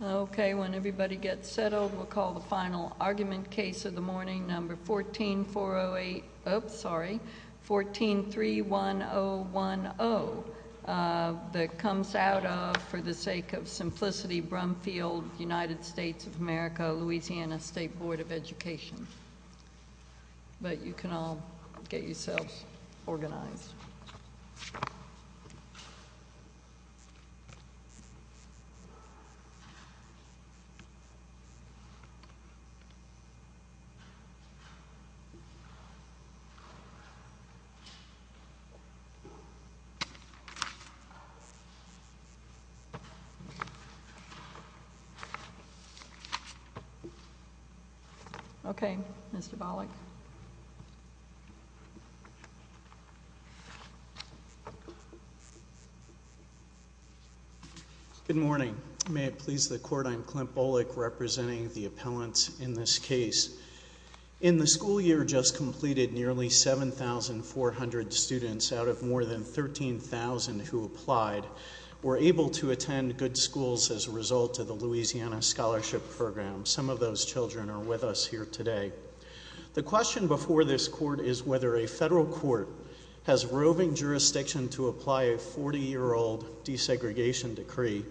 Okay, when everybody gets settled, we'll call the final argument case of the morning number 14408, oops, sorry, 1431010 that comes out of, for the sake of simplicity, Brumfield, United States of America, Louisiana State Board of Education. But you can all get yourselves organized. Good morning, may it please the Court, I'm Clint Bullock representing the appellants in this case. In the school year just completed, nearly 7,400 students out of more than 13,000 who applied were able to attend good schools as a result of the Louisiana Scholarship Program. Some of those children are with us here today. The question before this Court is whether a federal court has roving jurisdiction to apply a 40-year-old desegregation decree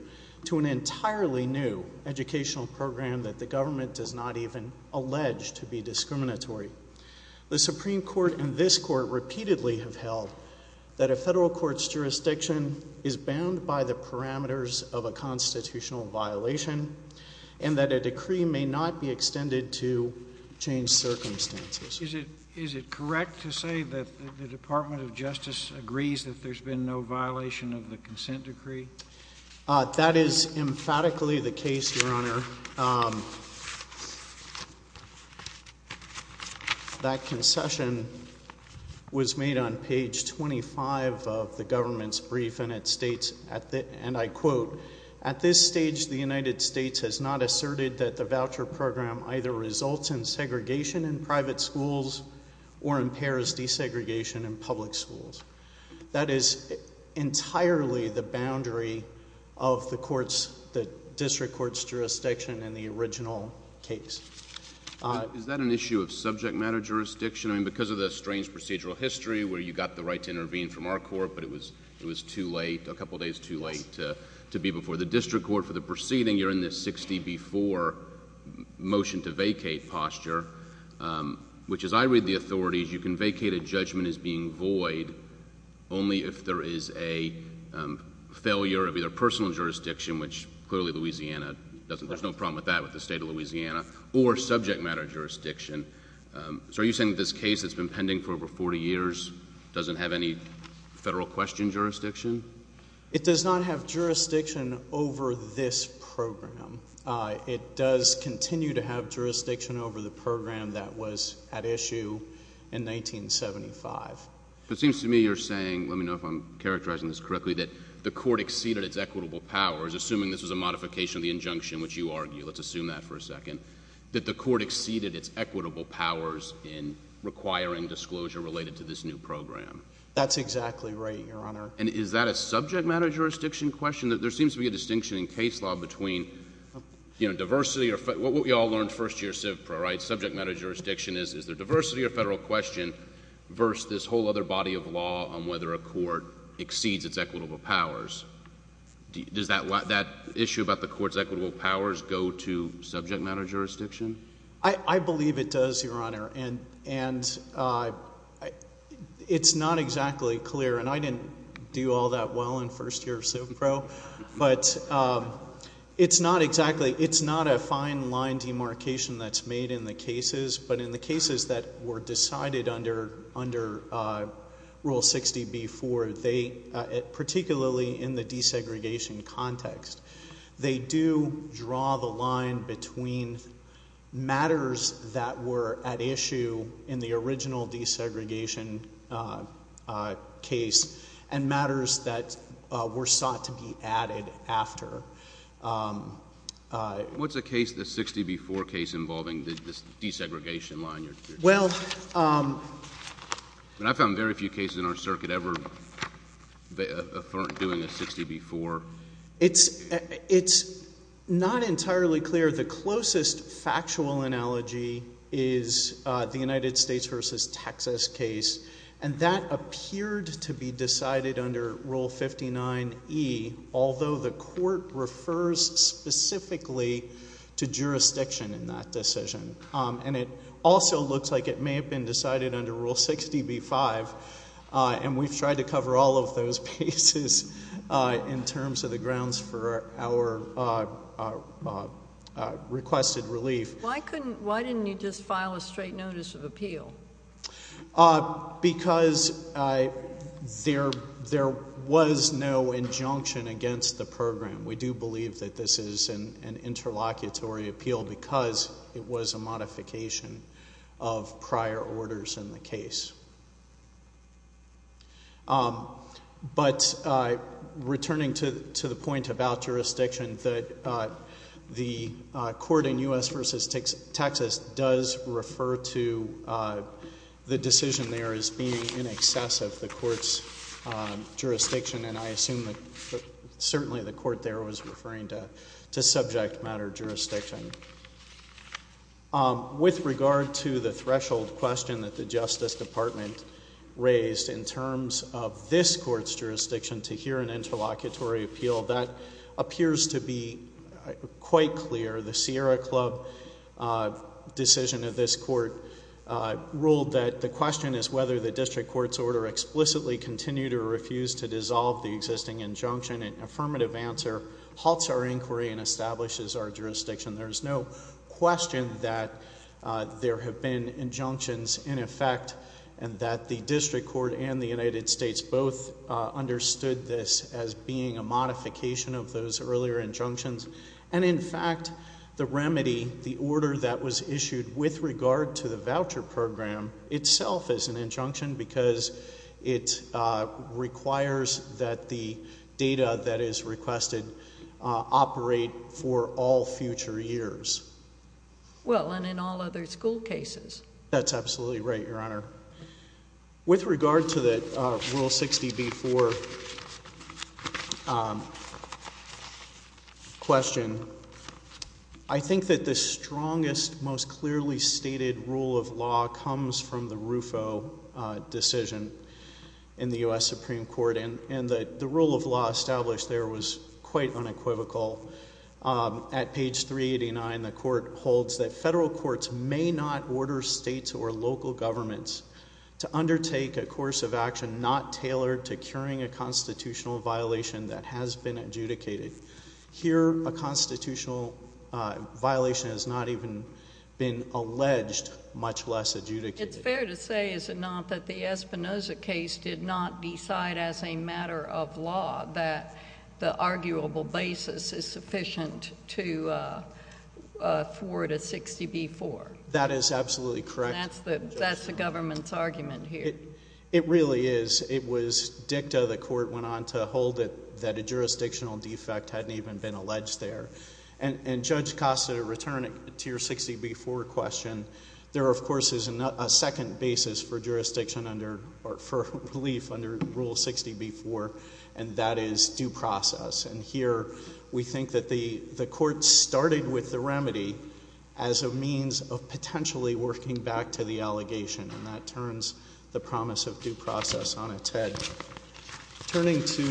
to an entirely new educational program that the government does not even allege to be discriminatory. The Supreme Court and this Court repeatedly have held that a federal court's jurisdiction is bound by the parameters of a constitutional violation and that a decree may not be extended to change circumstances. Is it correct to say that the Department of Justice agrees that there's been no violation of the consent decree? That is emphatically the case, Your Honor. That concession was made on page 25 of the government's brief and it states, and I quote, At this stage, the United States has not asserted that the voucher program either results in segregation in private schools or impairs desegregation in public schools. That is entirely the boundary of the district court's jurisdiction in the original case. Is that an issue of subject matter jurisdiction? Because of the strange procedural history where you got the right to intervene from our court, but it was too late, a couple days too late to be before the district court for the proceeding. You're in this 60 before motion to vacate posture, which as I read the authorities, you can vacate a judgment as being void only if there is a failure of either personal jurisdiction, which clearly Louisiana doesn't, there's no problem with that with the state of Louisiana, or subject matter jurisdiction. So are you saying that this case that's been pending for over 40 years doesn't have any federal question jurisdiction? It does not have jurisdiction over this program. It does continue to have jurisdiction over the program that was at issue in 1975. It seems to me you're saying, let me know if I'm characterizing this correctly, that the court exceeded its equitable powers, assuming this was a modification of the injunction which you argue. Let's assume that for a second. That the court exceeded its equitable powers in requiring disclosure related to this new program. That's exactly right, Your Honor. And is that a subject matter jurisdiction question? There seems to be a distinction in case law between, you know, diversity, what we all learned first year civ pro, right, subject matter jurisdiction is, is there diversity or federal question versus this whole other body of law on whether a court exceeds its equitable powers. Does that issue about the court's equitable powers go to subject matter jurisdiction? I believe it does, Your Honor. And it's not exactly clear, and I didn't do all that well in first year civ pro, but it's not exactly, it's not a fine line demarcation that's made in the cases, but in the cases that were decided under, under Rule 60b-4, they, particularly in the desegregation context, they do draw the line between matters that were at issue in the original desegregation case and matters that were sought to be added after. What's the case, the 60b-4 case involving this desegregation line? Well, I found very few cases in our circuit ever doing a 60b-4. It's not entirely clear. The closest factual analogy is the United States v. Texas case, and that appeared to be decided under Rule 59e, although the court refers specifically to jurisdiction in that decision. And it also looks like it may have been decided under Rule 60b-5, and we've tried to cover all of those cases in terms of the grounds for our requested relief. Why couldn't, why didn't you just file a straight notice of appeal? Because there was no injunction against the program. We do believe that this is an interlocutory appeal because it was a modification of prior orders in the case. But returning to the point about jurisdiction, that the court in U.S. v. Texas does refer to the decision there as being in excess of the court's jurisdiction, and I assume that certainly the court there was referring to subject matter jurisdiction. With regard to the threshold question that the Justice Department raised in terms of this court's jurisdiction to hear an interlocutory appeal, that appears to be quite clear. The Sierra Club decision of this court ruled that the question is whether the district court's order explicitly continued or refused to dissolve the existing injunction. An affirmative answer halts our inquiry and establishes our jurisdiction. There is no question that there have been injunctions in effect, and that the district court and the United States both understood this as being a modification of those earlier injunctions. And in fact, the remedy, the order that was issued with regard to the voucher program itself is an injunction because it requires that the data that is requested operate for all future years. Well, and in all other school cases. That's absolutely right, Your Honor. With regard to the Rule 60b-4 question, I think that the strongest, most clearly stated rule of law comes from the RUFO decision in the U.S. Supreme Court, and the rule of law established there was quite unequivocal. At page 389, the court holds that federal courts may not order states or local governments to undertake a course of action not tailored to curing a constitutional violation that has been adjudicated. Here a constitutional violation has not even been alleged, much less adjudicated. It's fair to say, is it not, that the Espinoza case did not decide as a matter of law that the arguable basis is sufficient to forward a 60b-4? That is absolutely correct. That's the government's argument here. It really is. It was dicta, the court went on to hold it, that a jurisdictional defect hadn't even been alleged there. And Judge Costa, to return it to your 60b-4 question, there of course is a second basis for jurisdiction under, or for relief under rule 60b-4, and that is due process. And here we think that the court started with the remedy as a means of potentially working back to the allegation, and that turns the promise of due process on its head. Turning to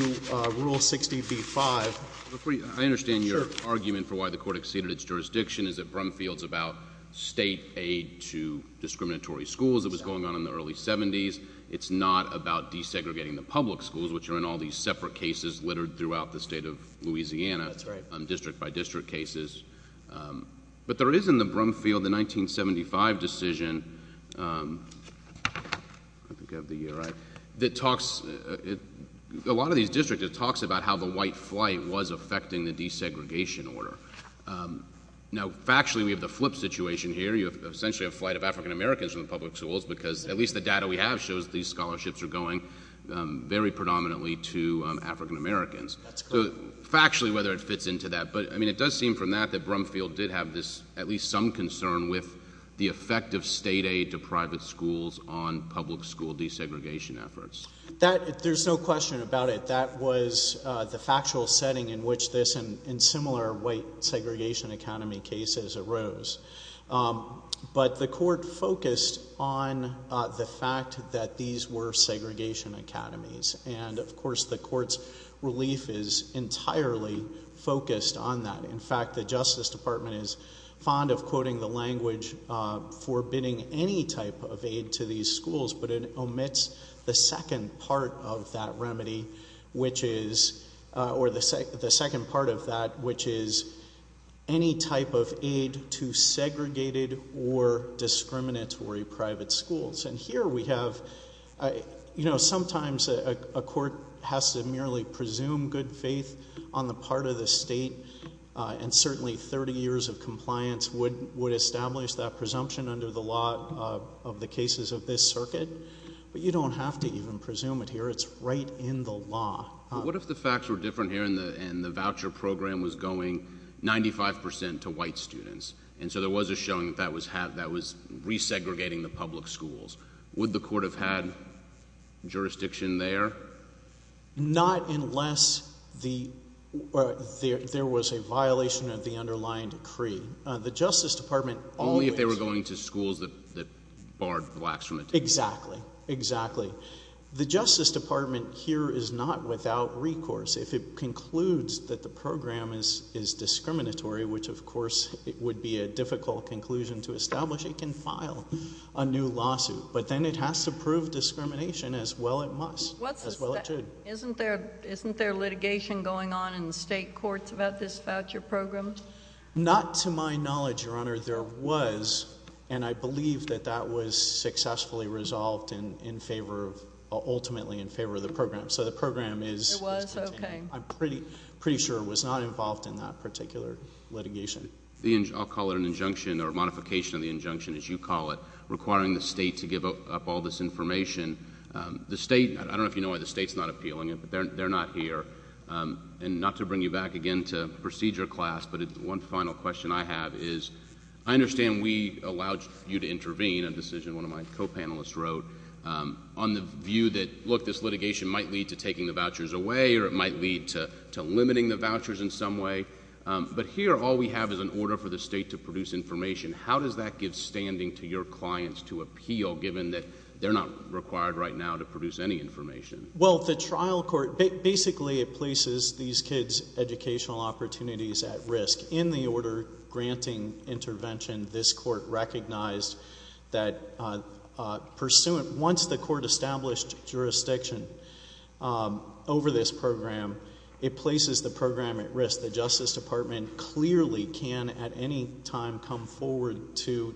rule 60b-5. I understand your argument for why the court exceeded its jurisdiction is that Brumfield's about state aid to discriminatory schools, it was going on in the early 70s. It's not about desegregating the public schools, which are in all these separate cases littered throughout the state of Louisiana, district by district cases. But there is in the Brumfield, the 1975 decision, I think I have the year right, that talks, a lot of these districts, it talks about how the white flight was affecting the desegregation order. Now factually, we have the flip situation here, you have essentially a flight of African Americans from the public schools, because at least the data we have shows these scholarships are going very predominantly to African Americans. That's correct. So factually, whether it fits into that, but I mean, it does seem from that that Brumfield did have this, at least some concern with the effect of state aid to private schools on public school desegregation efforts. That, there's no question about it. But that was the factual setting in which this and in similar white segregation academy cases arose. But the court focused on the fact that these were segregation academies. And of course, the court's relief is entirely focused on that. In fact, the Justice Department is fond of quoting the language forbidding any type of of that remedy, which is, or the second part of that, which is any type of aid to segregated or discriminatory private schools. And here we have, you know, sometimes a court has to merely presume good faith on the part of the state, and certainly 30 years of compliance would establish that presumption under the law of the cases of this circuit. But you don't have to even presume it here. It's right in the law. What if the facts were different here and the voucher program was going 95 percent to white students? And so there was a showing that that was resegregating the public schools. Would the court have had jurisdiction there? Not unless there was a violation of the underlying decree. The Justice Department always... Only if they were going to schools that Exactly. Exactly. The Justice Department here is not without recourse. If it concludes that the program is discriminatory, which of course it would be a difficult conclusion to establish, it can file a new lawsuit. But then it has to prove discrimination as well it must, as well it should. Isn't there litigation going on in the state courts about this voucher program? Not to my knowledge, Your Honor. There was, and I believe that that was successfully resolved in favor of, ultimately in favor of the program. So the program is contained. It was? Okay. I'm pretty sure it was not involved in that particular litigation. I'll call it an injunction or modification of the injunction, as you call it, requiring the state to give up all this information. The state, I don't know if you know why the state's not appealing it, but they're not here. And not to bring you back again to procedure class, but one final question I have is I understand we allowed you to intervene, a decision one of my co-panelists wrote, on the view that, look, this litigation might lead to taking the vouchers away or it might lead to limiting the vouchers in some way. But here all we have is an order for the state to produce information. How does that give standing to your clients to appeal, given that they're not required right now to produce any information? Well, the trial court, basically it places these kids' educational opportunities at risk. In the order granting intervention, this court recognized that pursuant, once the court established jurisdiction over this program, it places the program at risk. The Justice Department clearly can at any time come forward to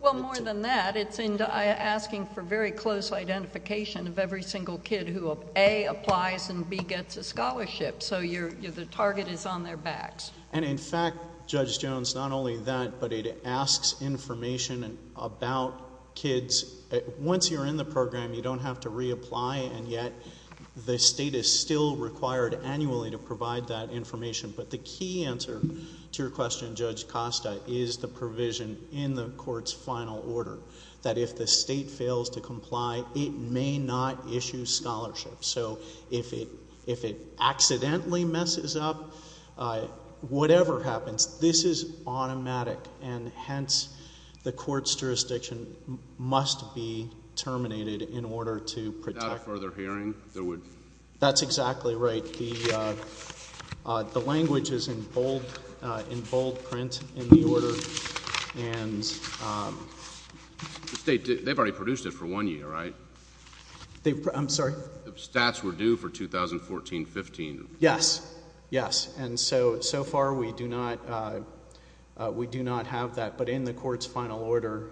Well, more than that, it's asking for very close identification of every single kid who A, applies, and B, gets a scholarship. So the target is on their backs. And in fact, Judge Jones, not only that, but it asks information about kids. Once you're in the program, you don't have to reapply, and yet the state is still required annually to provide that information. But the key answer to your question, Judge Costa, is the provision in the court's final order, that if the state fails to comply, it may not issue scholarships. So if it accidentally messes up, whatever happens, this is automatic. And hence, the court's jurisdiction must be terminated in order to protect Without further hearing, there would That's exactly right. The language is in bold print in the order. And The state, they've already produced it for one year, right? I'm sorry? The stats were due for 2014-15. Yes. Yes. And so, so far, we do not have that. But in the court's final order,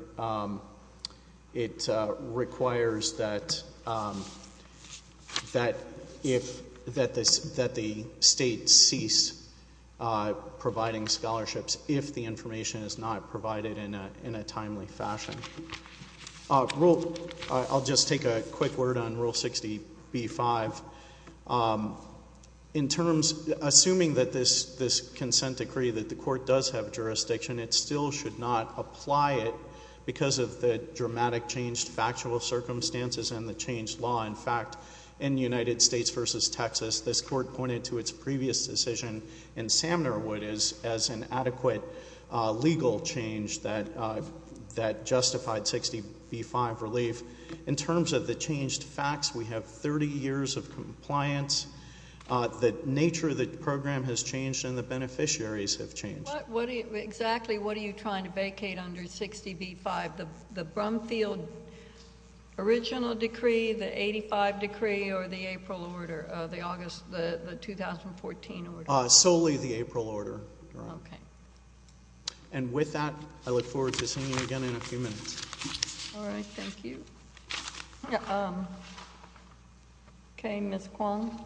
it requires that the state cease providing scholarships if the information is not provided in a timely fashion. I'll just take a quick word on Rule 60B-5. Assuming that this consent decree, that the court does have jurisdiction, it still should not apply it because of the dramatic changed factual circumstances and the changed law. In fact, in United States v. Texas, this court pointed to its previous decision in Samnerwood as an adequate legal change that justified 60B-5 relief. In terms of the changed facts, we have 30 years of compliance. The nature of the program has changed, and the beneficiaries have changed. Exactly what are you trying to vacate under 60B-5? The Brumfield original decree, the 85 decree, or the April order, the August, the 2014 order? Solely the April order. Okay. And with that, I look forward to seeing you again in a few minutes. All right. Thank you. Okay, Ms. Kwong.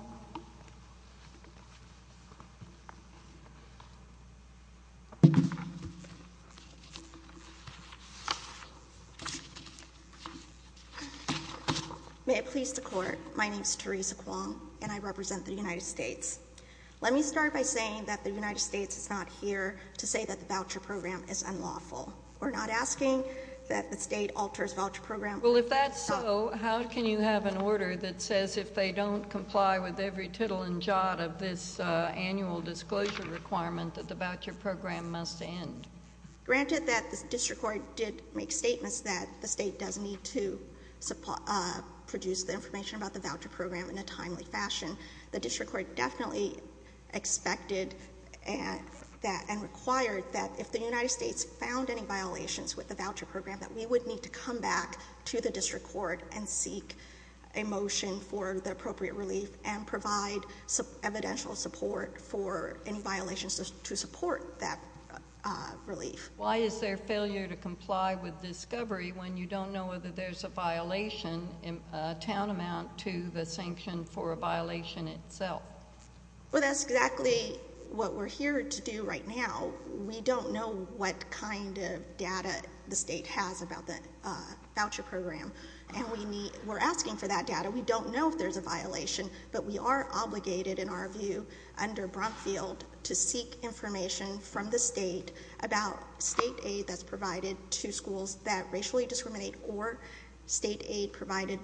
May it please the Court, my name is Teresa Kwong, and I represent the United States. Let me start by saying that the United States is not here to say that the voucher program is unlawful. We're not asking that the state alters voucher program. Well, if that's so, how can you have an order that says, if they don't comply with every tittle and jot of this annual disclosure requirement, that the voucher program must end? Granted that the district court did make statements that the state does need to produce the information about the voucher program in a timely fashion, the district court definitely expected that and required that if the United States found any violations with the voucher program, that we would need to come back to the district court and seek a motion for the appropriate relief and provide evidential support for any violations to support that relief. Why is there failure to comply with discovery when you don't know whether there's a violation, a town amount to the sanction for a violation itself? Well, that's exactly what we're here to do right now. We don't know what kind of data the state has about the voucher program, and we're asking for that data. We don't know if there's a violation, but we are obligated, in our view, under Brumfield to seek information from the state about state aid that's provided to schools that racially discriminate or state aid provided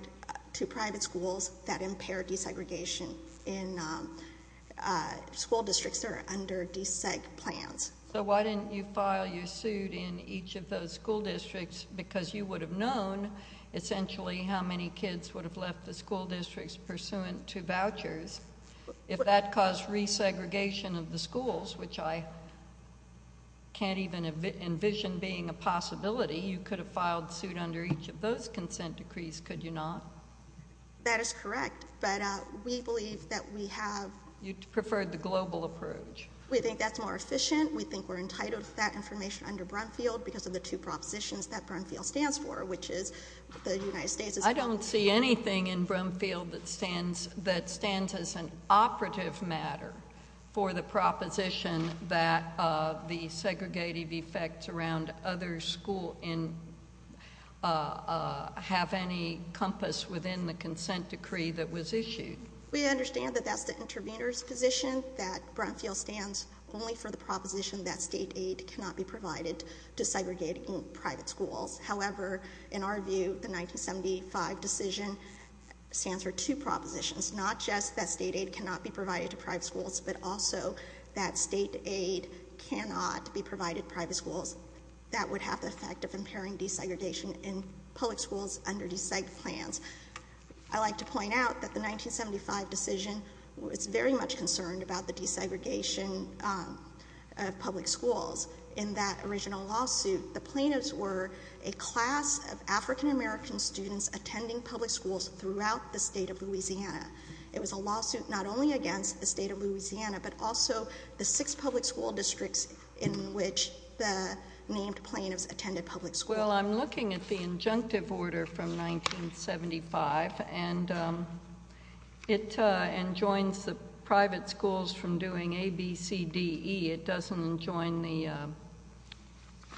to private schools that impair desegregation in school districts that are under deseg plans. So why didn't you file your suit in each of those school districts? Because you would have known, essentially, how many kids would have left the school districts pursuant to vouchers. If that caused resegregation of the schools, which I can't even envision being a possibility, you could have filed suit under each of those consent decrees, could you not? That is correct, but we believe that we have- You preferred the global approach. We think that's more efficient. We think we're entitled to that information under Brumfield because of the two propositions that Brumfield stands for, which is the United States is- I don't see anything in Brumfield that stands as an operative matter for the proposition that the segregated effects around other schools have any compass within the consent decree that was issued. We understand that that's the intervener's position, that Brumfield stands only for the proposition that state aid cannot be provided to segregated private schools. However, in our view, the 1975 decision stands for two propositions, not just that state aid cannot be provided to private schools, but also that state aid cannot be provided to private schools. That would have the effect of impairing desegregation in public schools under deseg plans. I'd like to point out that the 1975 decision was very much concerned about the desegregation of public schools. In that original lawsuit, the plaintiffs were a class of African American students attending public schools throughout the state of Louisiana. It was a lawsuit not only against the state of Louisiana, but also the six public school districts in which the named plaintiffs attended public schools. Well, I'm looking at the injunctive order from 1975, and it enjoins the private schools from doing A, B, C, D, E. It doesn't enjoin the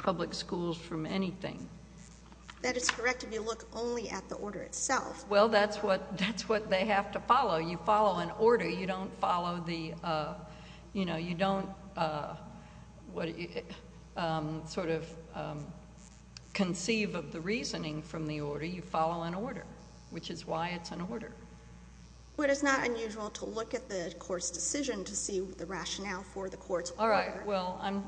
public schools from anything. That is correct if you look only at the order itself. Well, that's what they have to follow. You follow an order. You don't sort of conceive of the reasoning from the order. You follow an order, which is why it's an order. But it's not unusual to look at the court's decision to see the rationale for the court's order. All right.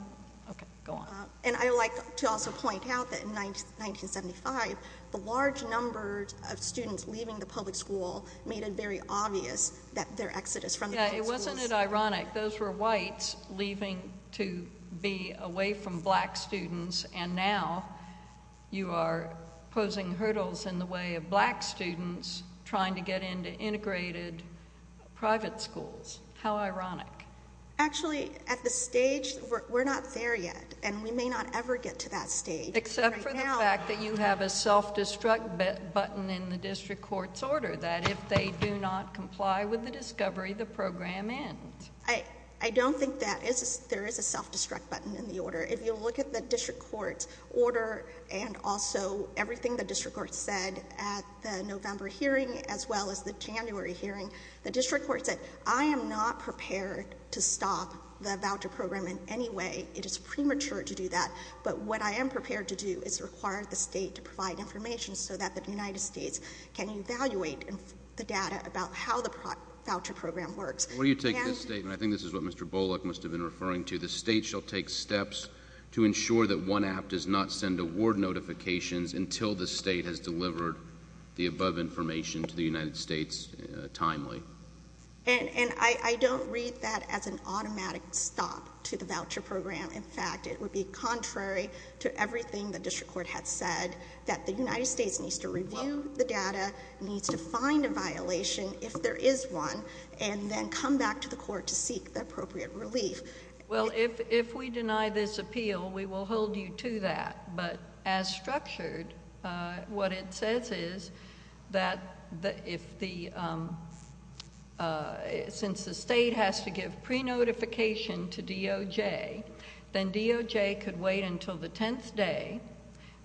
Okay, go on. And I would like to also point out that in 1975, the large number of students leaving the public school made it very obvious that their exodus from the public schools. Yeah, wasn't it ironic? Those were whites leaving to be away from black students, and now you are posing hurdles in the way of black students trying to get into integrated private schools. How ironic. Actually, at this stage, we're not there yet, and we may not ever get to that stage. Except for the fact that you have a self-destruct button in the district court's order, that if they do not comply with the discovery, the program ends. I don't think there is a self-destruct button in the order. If you look at the district court's order and also everything the district court said at the November hearing as well as the January hearing, the district court said, I am not prepared to stop the voucher program in any way. It is premature to do that, but what I am prepared to do is require the state to provide information so that the United States can evaluate the data about how the voucher program works. Where do you take this statement? I think this is what Mr. Bullock must have been referring to. The state shall take steps to ensure that one app does not send award notifications until the state has delivered the above information to the United States timely. And I don't read that as an automatic stop to the voucher program. In fact, it would be contrary to everything the district court had said, that the United States needs to review the data, needs to find a violation if there is one, and then come back to the court to seek the appropriate relief. Well, if we deny this appeal, we will hold you to that. But as structured, what it says is that since the state has to give pre-notification to DOJ, then DOJ could wait until the 10th day,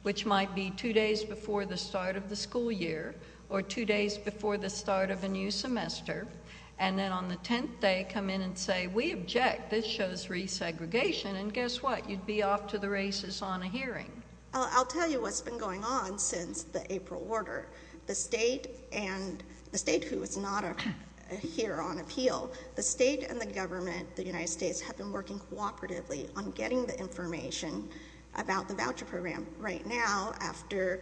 which might be two days before the start of the school year or two days before the start of a new semester, and then on the 10th day come in and say, we object, this shows re-segregation, and guess what? You'd be off to the races on a hearing. I'll tell you what's been going on since the April order. The state who is not here on appeal, the state and the government, the United States, have been working cooperatively on getting the information about the voucher program. Right now, after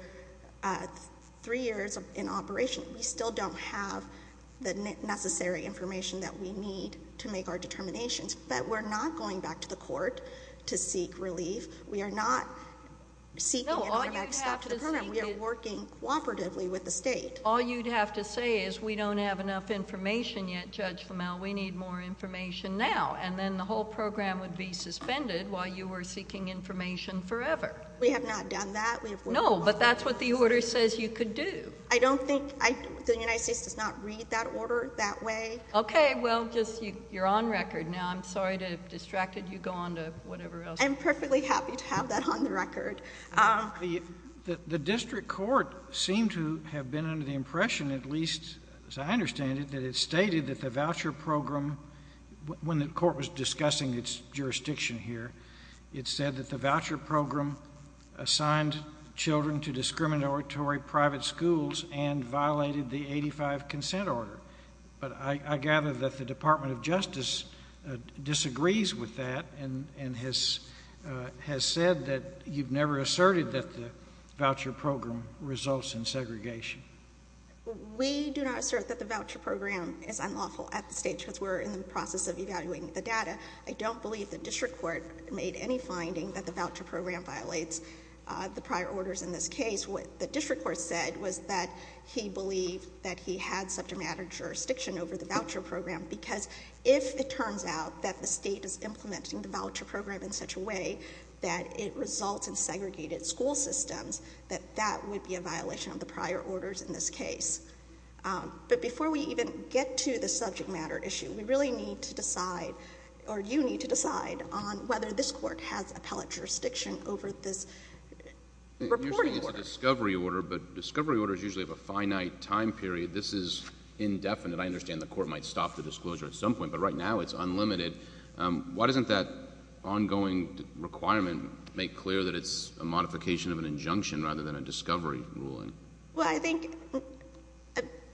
three years in operation, we still don't have the necessary information that we need to make our determinations. But we're not going back to the court to seek relief. We are not seeking an automatic stop to the program. We are working cooperatively with the state. All you'd have to say is we don't have enough information yet, Judge Flamel. We need more information now. And then the whole program would be suspended while you were seeking information forever. We have not done that. No, but that's what the order says you could do. I don't think the United States does not read that order that way. Okay, well, just you're on record now. I'm sorry to have distracted you. Go on to whatever else. I'm perfectly happy to have that on the record. The district court seemed to have been under the impression, at least as I understand it, that it stated that the voucher program, when the court was discussing its jurisdiction here, it said that the voucher program assigned children to discriminatory private schools and violated the 85 consent order. But I gather that the Department of Justice disagrees with that and has said that you've never asserted that the voucher program results in segregation. We do not assert that the voucher program is unlawful at this stage because we're in the process of evaluating the data. I don't believe the district court made any finding that the voucher program violates the prior orders in this case. What the district court said was that he believed that he had subject matter jurisdiction over the voucher program because if it turns out that the state is implementing the voucher program in such a way that it results in segregated school systems, that that would be a violation of the prior orders in this case. But before we even get to the subject matter issue, we really need to decide, or you need to decide, on whether this court has appellate jurisdiction over this reporting. You're saying it's a discovery order, but discovery orders usually have a finite time period. This is indefinite. I understand the court might stop the disclosure at some point, but right now it's unlimited. Why doesn't that ongoing requirement make clear that it's a modification of an injunction rather than a discovery ruling? Well, I think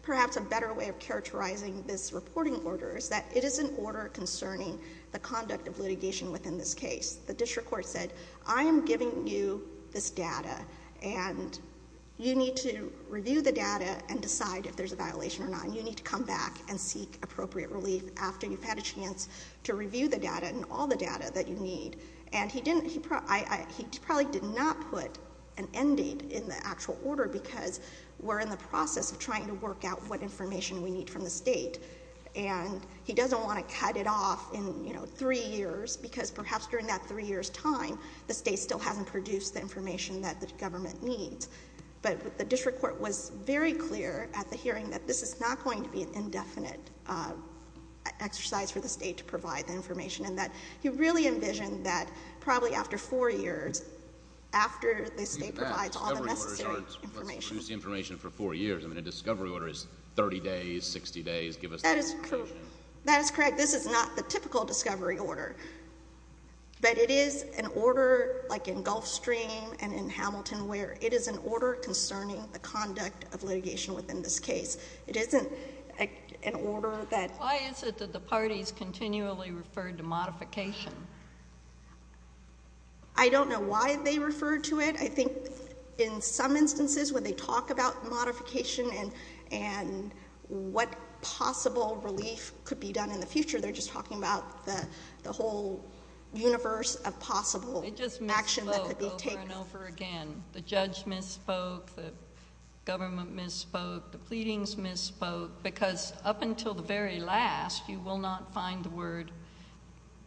perhaps a better way of characterizing this reporting order is that it is an order concerning the conduct of litigation within this case. The district court said, I am giving you this data, and you need to review the data and decide if there's a violation or not, and you need to come back and seek appropriate relief after you've had a chance to review the data and all the data that you need. And he probably did not put an end date in the actual order because we're in the process of trying to work out what information we need from the state. And he doesn't want to cut it off in, you know, three years, because perhaps during that three years' time the state still hasn't produced the information that the government needs. But the district court was very clear at the hearing that this is not going to be an indefinite exercise for the state to provide the information and that he really envisioned that probably after four years, after the state provides all the necessary information. Even that discovery order starts, let's produce the information for four years. I mean, a discovery order is 30 days, 60 days, give us the information. That is correct. This is not the typical discovery order. But it is an order like in Gulfstream and in Hamilton where it is an order concerning the conduct of litigation within this case. It isn't an order that— I don't know why they refer to it. I think in some instances when they talk about modification and what possible relief could be done in the future, they're just talking about the whole universe of possible action that could be taken. It just misspoke over and over again. The judge misspoke, the government misspoke, the pleadings misspoke, because up until the very last, you will not find the word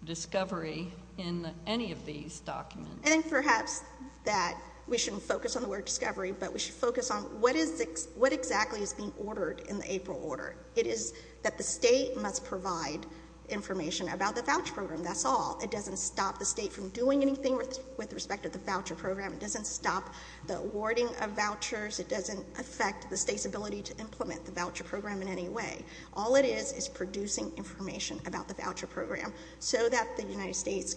discovery in any of these documents. I think perhaps that we shouldn't focus on the word discovery, but we should focus on what exactly is being ordered in the April order. It is that the state must provide information about the voucher program. That's all. It doesn't stop the state from doing anything with respect to the voucher program. It doesn't stop the awarding of vouchers. It doesn't affect the state's ability to implement the voucher program in any way. All it is is producing information about the voucher program so that the United States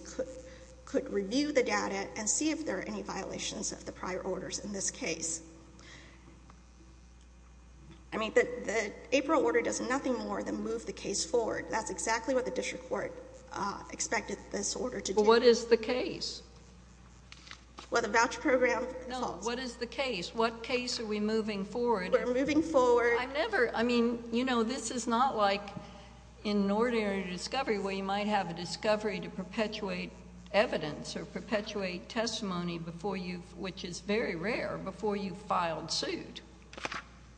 could review the data and see if there are any violations of the prior orders in this case. I mean, the April order does nothing more than move the case forward. That's exactly what the district court expected this order to do. But what is the case? Well, the voucher program— No, what is the case? What case are we moving forward? We're moving forward— I've never—I mean, you know, this is not like in an ordinary discovery where you might have a discovery to perpetuate evidence or perpetuate testimony before you've—which is very rare—before you've filed suit.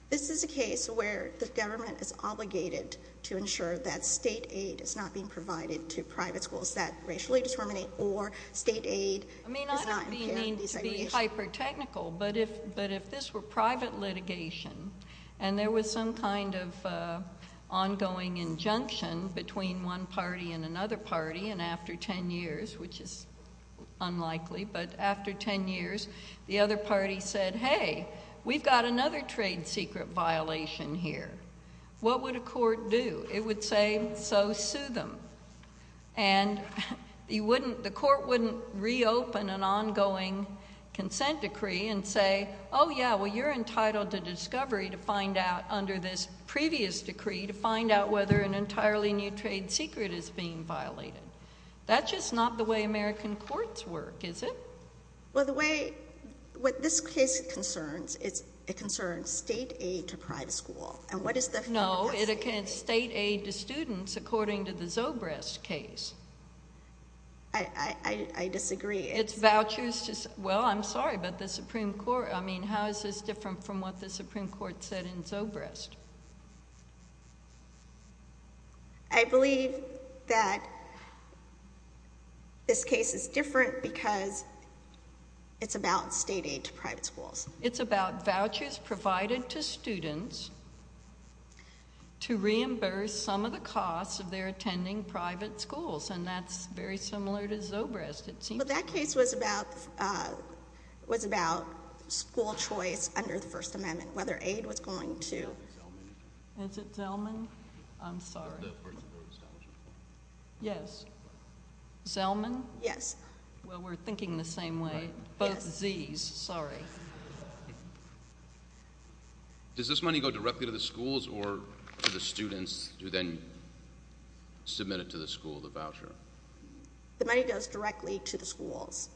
This is a case where the government is obligated to ensure that state aid is not being provided to private schools that racially discriminate or state aid is not— I mean, I don't mean to be hyper-technical, but if this were private litigation and there was some kind of ongoing injunction between one party and another party, and after 10 years, which is unlikely, but after 10 years, the other party said, hey, we've got another trade secret violation here. What would a court do? It would say, so sue them. And you wouldn't—the court wouldn't reopen an ongoing consent decree and say, oh, yeah, well, you're entitled to discovery to find out under this previous decree to find out whether an entirely new trade secret is being violated. That's just not the way American courts work, is it? Well, the way—what this case concerns, it concerns state aid to private school. And what is the— No, it concerns state aid to students according to the Zobrist case. I disagree. It's vouchers to—well, I'm sorry, but the Supreme Court—I mean, how is this different from what the Supreme Court said in Zobrist? I believe that this case is different because it's about state aid to private schools. It's about vouchers provided to students to reimburse some of the costs of their attending private schools, and that's very similar to Zobrist, it seems. But that case was about school choice under the First Amendment, whether aid was going to— Is it Zelman? Is it Zelman? I'm sorry. The principal and scholarship. Yes. Zelman? Yes. Well, we're thinking the same way. Right. It's about Zs, sorry. Does this money go directly to the schools or to the students who then submit it to the school, the voucher? The money goes directly to the schools.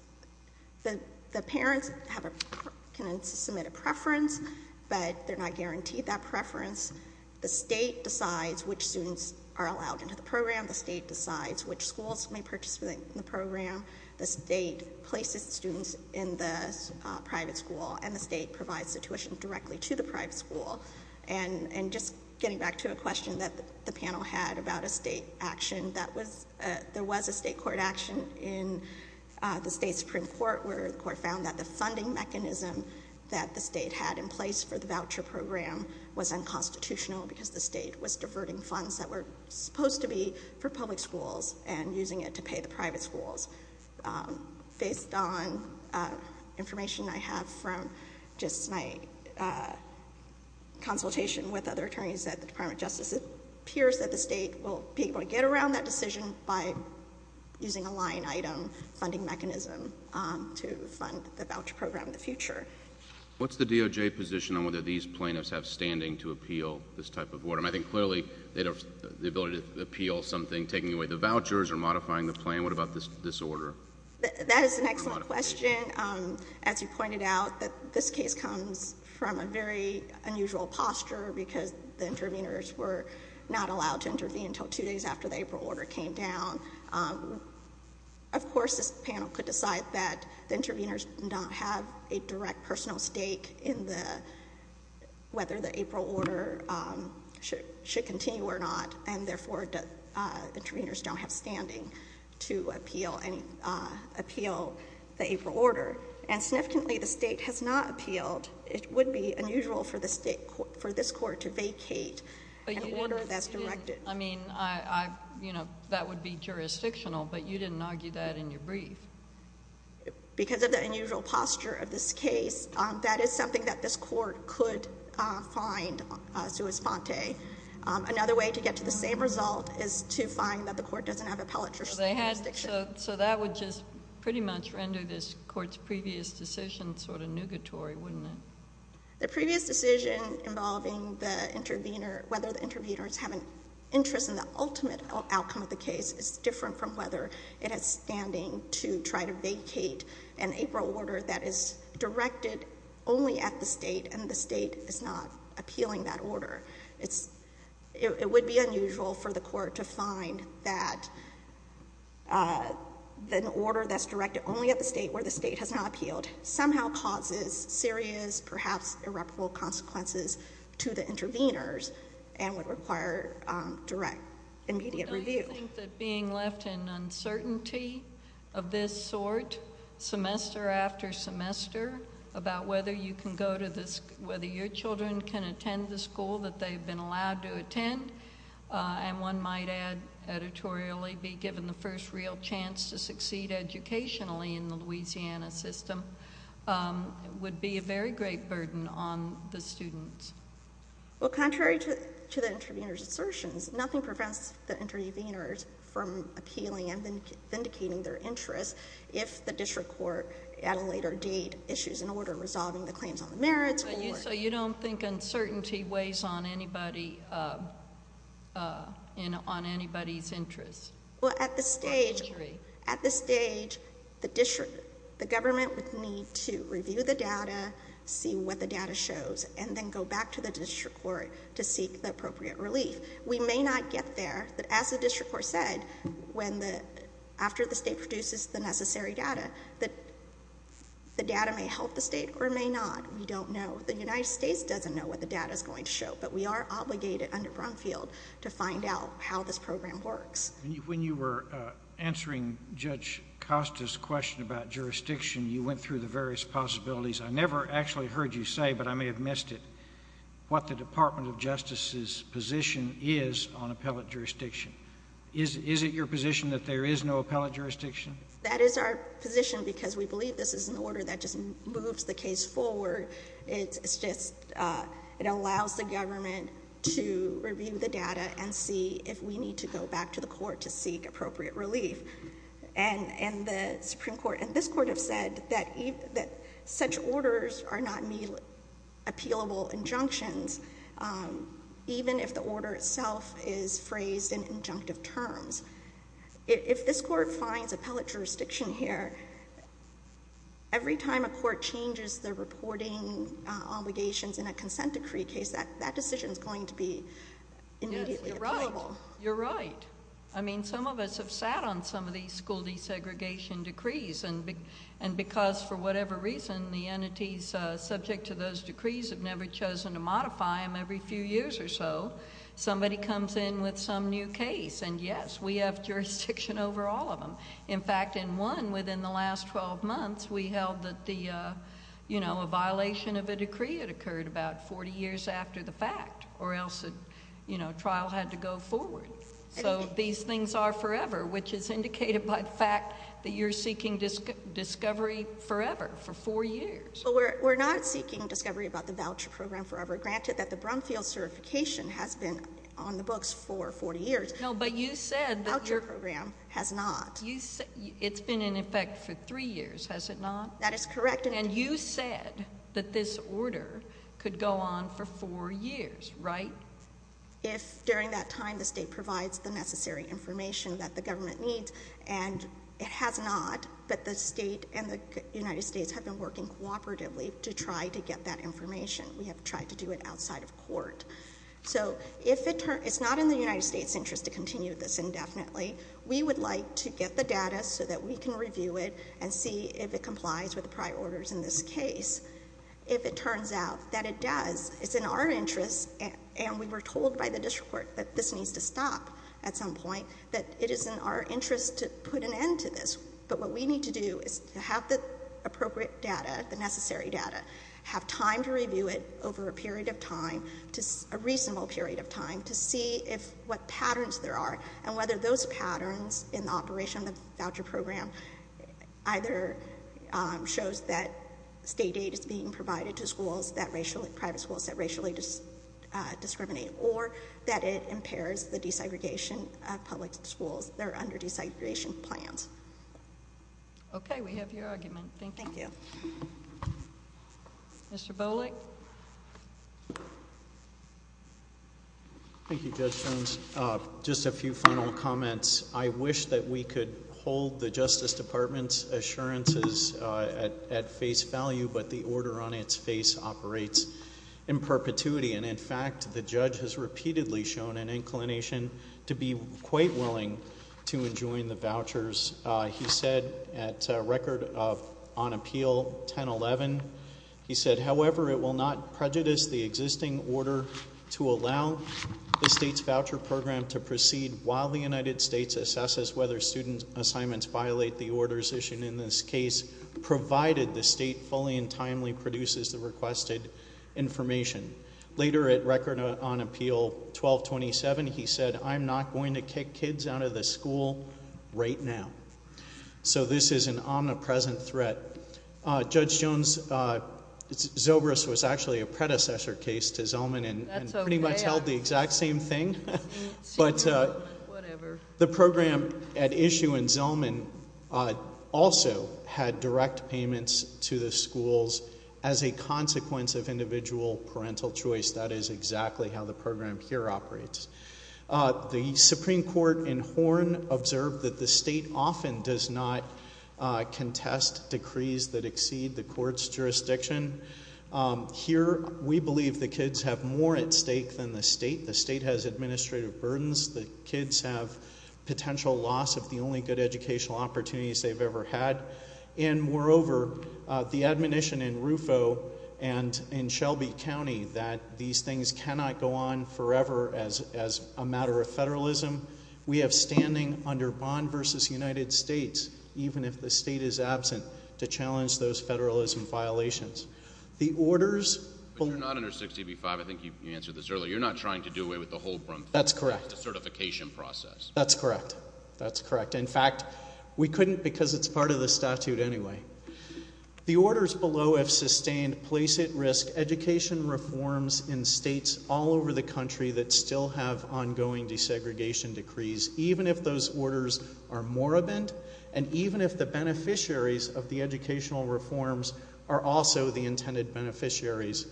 The parents have a—can submit a preference, but they're not guaranteed that preference. The state decides which students are allowed into the program. The state decides which schools may participate in the program. The state places students in the private school, and the state provides the tuition directly to the private school. And just getting back to a question that the panel had about a state action, there was a state court action in the state Supreme Court where the court found that the funding mechanism that the state had in place for the voucher program was unconstitutional because the state was diverting funds that were supposed to be for public schools and using it to pay the private schools. Based on information I have from just my consultation with other attorneys at the Department of Justice, it appears that the state will be able to get around that decision by using a line item funding mechanism to fund the voucher program in the future. What's the DOJ position on whether these plaintiffs have standing to appeal this type of order? I think clearly they have the ability to appeal something, taking away the vouchers or modifying the plan. What about this order? That is an excellent question. As you pointed out, this case comes from a very unusual posture because the intervenors were not allowed to intervene until two days after the April order came down. Of course, this panel could decide that the intervenors don't have a direct personal stake in whether the April order should continue or not, and therefore the intervenors don't have standing to appeal the April order. And significantly, the state has not appealed. It would be unusual for this court to vacate an order that's directed. I mean, that would be jurisdictional, but you didn't argue that in your brief. Because of the unusual posture of this case, that is something that this court could find sui sponte. Another way to get to the same result is to find that the court doesn't have appellate jurisdiction. So that would just pretty much render this court's previous decision sort of nugatory, wouldn't it? The previous decision involving whether the intervenors have an interest in the ultimate outcome of the case is different from whether it has standing to try to vacate an April order that is directed only at the state, and the state is not appealing that order. It would be unusual for the court to find that an order that's directed only at the state where the state has not appealed somehow causes serious, perhaps irreparable consequences to the intervenors and would require direct, immediate review. Do you think that being left in uncertainty of this sort, semester after semester, about whether your children can attend the school that they've been allowed to attend, and one might add, editorially, be given the first real chance to succeed educationally in the Louisiana system, would be a very great burden on the students? Well, contrary to the intervenors' assertions, nothing prevents the intervenors from appealing and vindicating their interest if the district court at a later date issues an order resolving the claims on the merits or... So you don't think uncertainty weighs on anybody's interest? Well, at this stage, the government would need to review the data, see what the data shows, and then go back to the district court to seek the appropriate relief. We may not get there, but as the district court said, after the state produces the necessary data, the data may help the state or it may not. We don't know. The United States doesn't know what the data is going to show, but we are obligated under Brumfield to find out how this program works. When you were answering Judge Costa's question about jurisdiction, you went through the various possibilities. I never actually heard you say, but I may have missed it, what the Department of Justice's position is on appellate jurisdiction. Is it your position that there is no appellate jurisdiction? That is our position because we believe this is an order that just moves the case forward. It's just... it allows the government to review the data and see if we need to go back to the court to seek appropriate relief. And the Supreme Court and this Court have said that such orders are not appealable injunctions, even if the order itself is phrased in injunctive terms. If this Court finds appellate jurisdiction here, every time a Court changes the reporting obligations in a consent decree case, that decision is going to be immediately appealable. Yes, you're right. You're right. I mean, some of us have sat on some of these school desegregation decrees. And because, for whatever reason, the entities subject to those decrees have never chosen to modify them every few years or so, somebody comes in with some new case, and yes, we have jurisdiction over all of them. In fact, in one, within the last 12 months, we held that the, you know, a violation of a decree had occurred about 40 years after the fact, or else, you know, trial had to go forward. So these things are forever, which is indicated by the fact that you're seeking discovery forever, for four years. We're not seeking discovery about the voucher program forever, granted that the Brumfield certification has been on the books for 40 years. No, but you said that your— The voucher program has not. It's been in effect for three years, has it not? That is correct. And you said that this order could go on for four years, right? If, during that time, the State provides the necessary information that the government needs, and it has not, but the State and the United States have been working cooperatively to try to get that information. We have tried to do it outside of court. So if it turns—it's not in the United States' interest to continue this indefinitely. We would like to get the data so that we can review it and see if it complies with the prior orders in this case. If it turns out that it does, it's in our interest, and we were told by the district court that this needs to stop at some point, that it is in our interest to put an end to this. But what we need to do is to have the appropriate data, the necessary data, have time to review it over a period of time, a reasonable period of time, to see what patterns there are and whether those patterns in the operation of the voucher program either shows that state aid is being provided to schools, private schools that racially discriminate, or that it impairs the desegregation of public schools that are under desegregation plans. Okay, we have your argument. Thank you. Thank you. Mr. Bolick? Thank you, Judge Jones. Just a few final comments. I wish that we could hold the Justice Department's assurances at face value, but the order on its face operates in perpetuity. And in fact, the judge has repeatedly shown an inclination to be quite willing to enjoin the vouchers. He said, at record of on appeal 1011, he said, however, it will not prejudice the existing order to allow the state's voucher program to proceed while the United States assesses whether student assignments violate the orders issued in this case, provided the state fully and timely produces the requested information. Later at record on appeal 1227, he said, I'm not going to kick kids out of the school right now. So this is an omnipresent threat. Judge Jones, Zobris was actually a predecessor case to Zellman and pretty much held the exact same thing. Whatever. The program at issue in Zellman also had direct payments to the schools as a consequence of individual parental choice. That is exactly how the program here operates. The Supreme Court in Horn observed that the state often does not contest decrees that exceed the court's jurisdiction. Here, we believe the kids have more at stake than the state. The state has administrative burdens. The kids have potential loss of the only good educational opportunities they've ever had. And moreover, the admonition in Rufo and in Shelby County that these things cannot go on forever as a matter of federalism. We have standing under Bond versus United States, even if the state is absent, to challenge those federalism violations. The orders- But you're not under 60 v. 5. I think you answered this earlier. You're not trying to do away with the whole- That's correct. The certification process. That's correct. That's correct. In fact, we couldn't because it's part of the statute anyway. The orders below have sustained place-at-risk education reforms in states all over the country that still have ongoing desegregation decrees, even if those orders are moribund, and even if the beneficiaries of the educational reforms are also the intended beneficiaries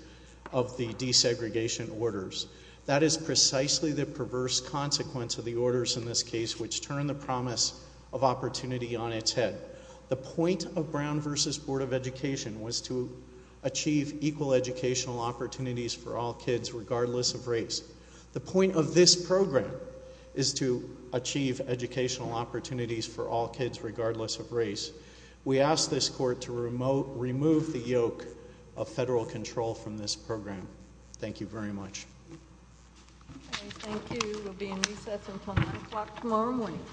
of the desegregation orders. That is precisely the perverse consequence of the orders in this case, which turn the promise of opportunity on its head. The point of Brown versus Board of Education was to achieve equal educational opportunities for all kids, regardless of race. The point of this program is to achieve educational opportunities for all kids, regardless of race. We ask this court to remove the yoke of federal control from this program. Thank you very much. Thank you. We'll be in recess until 9 o'clock tomorrow morning.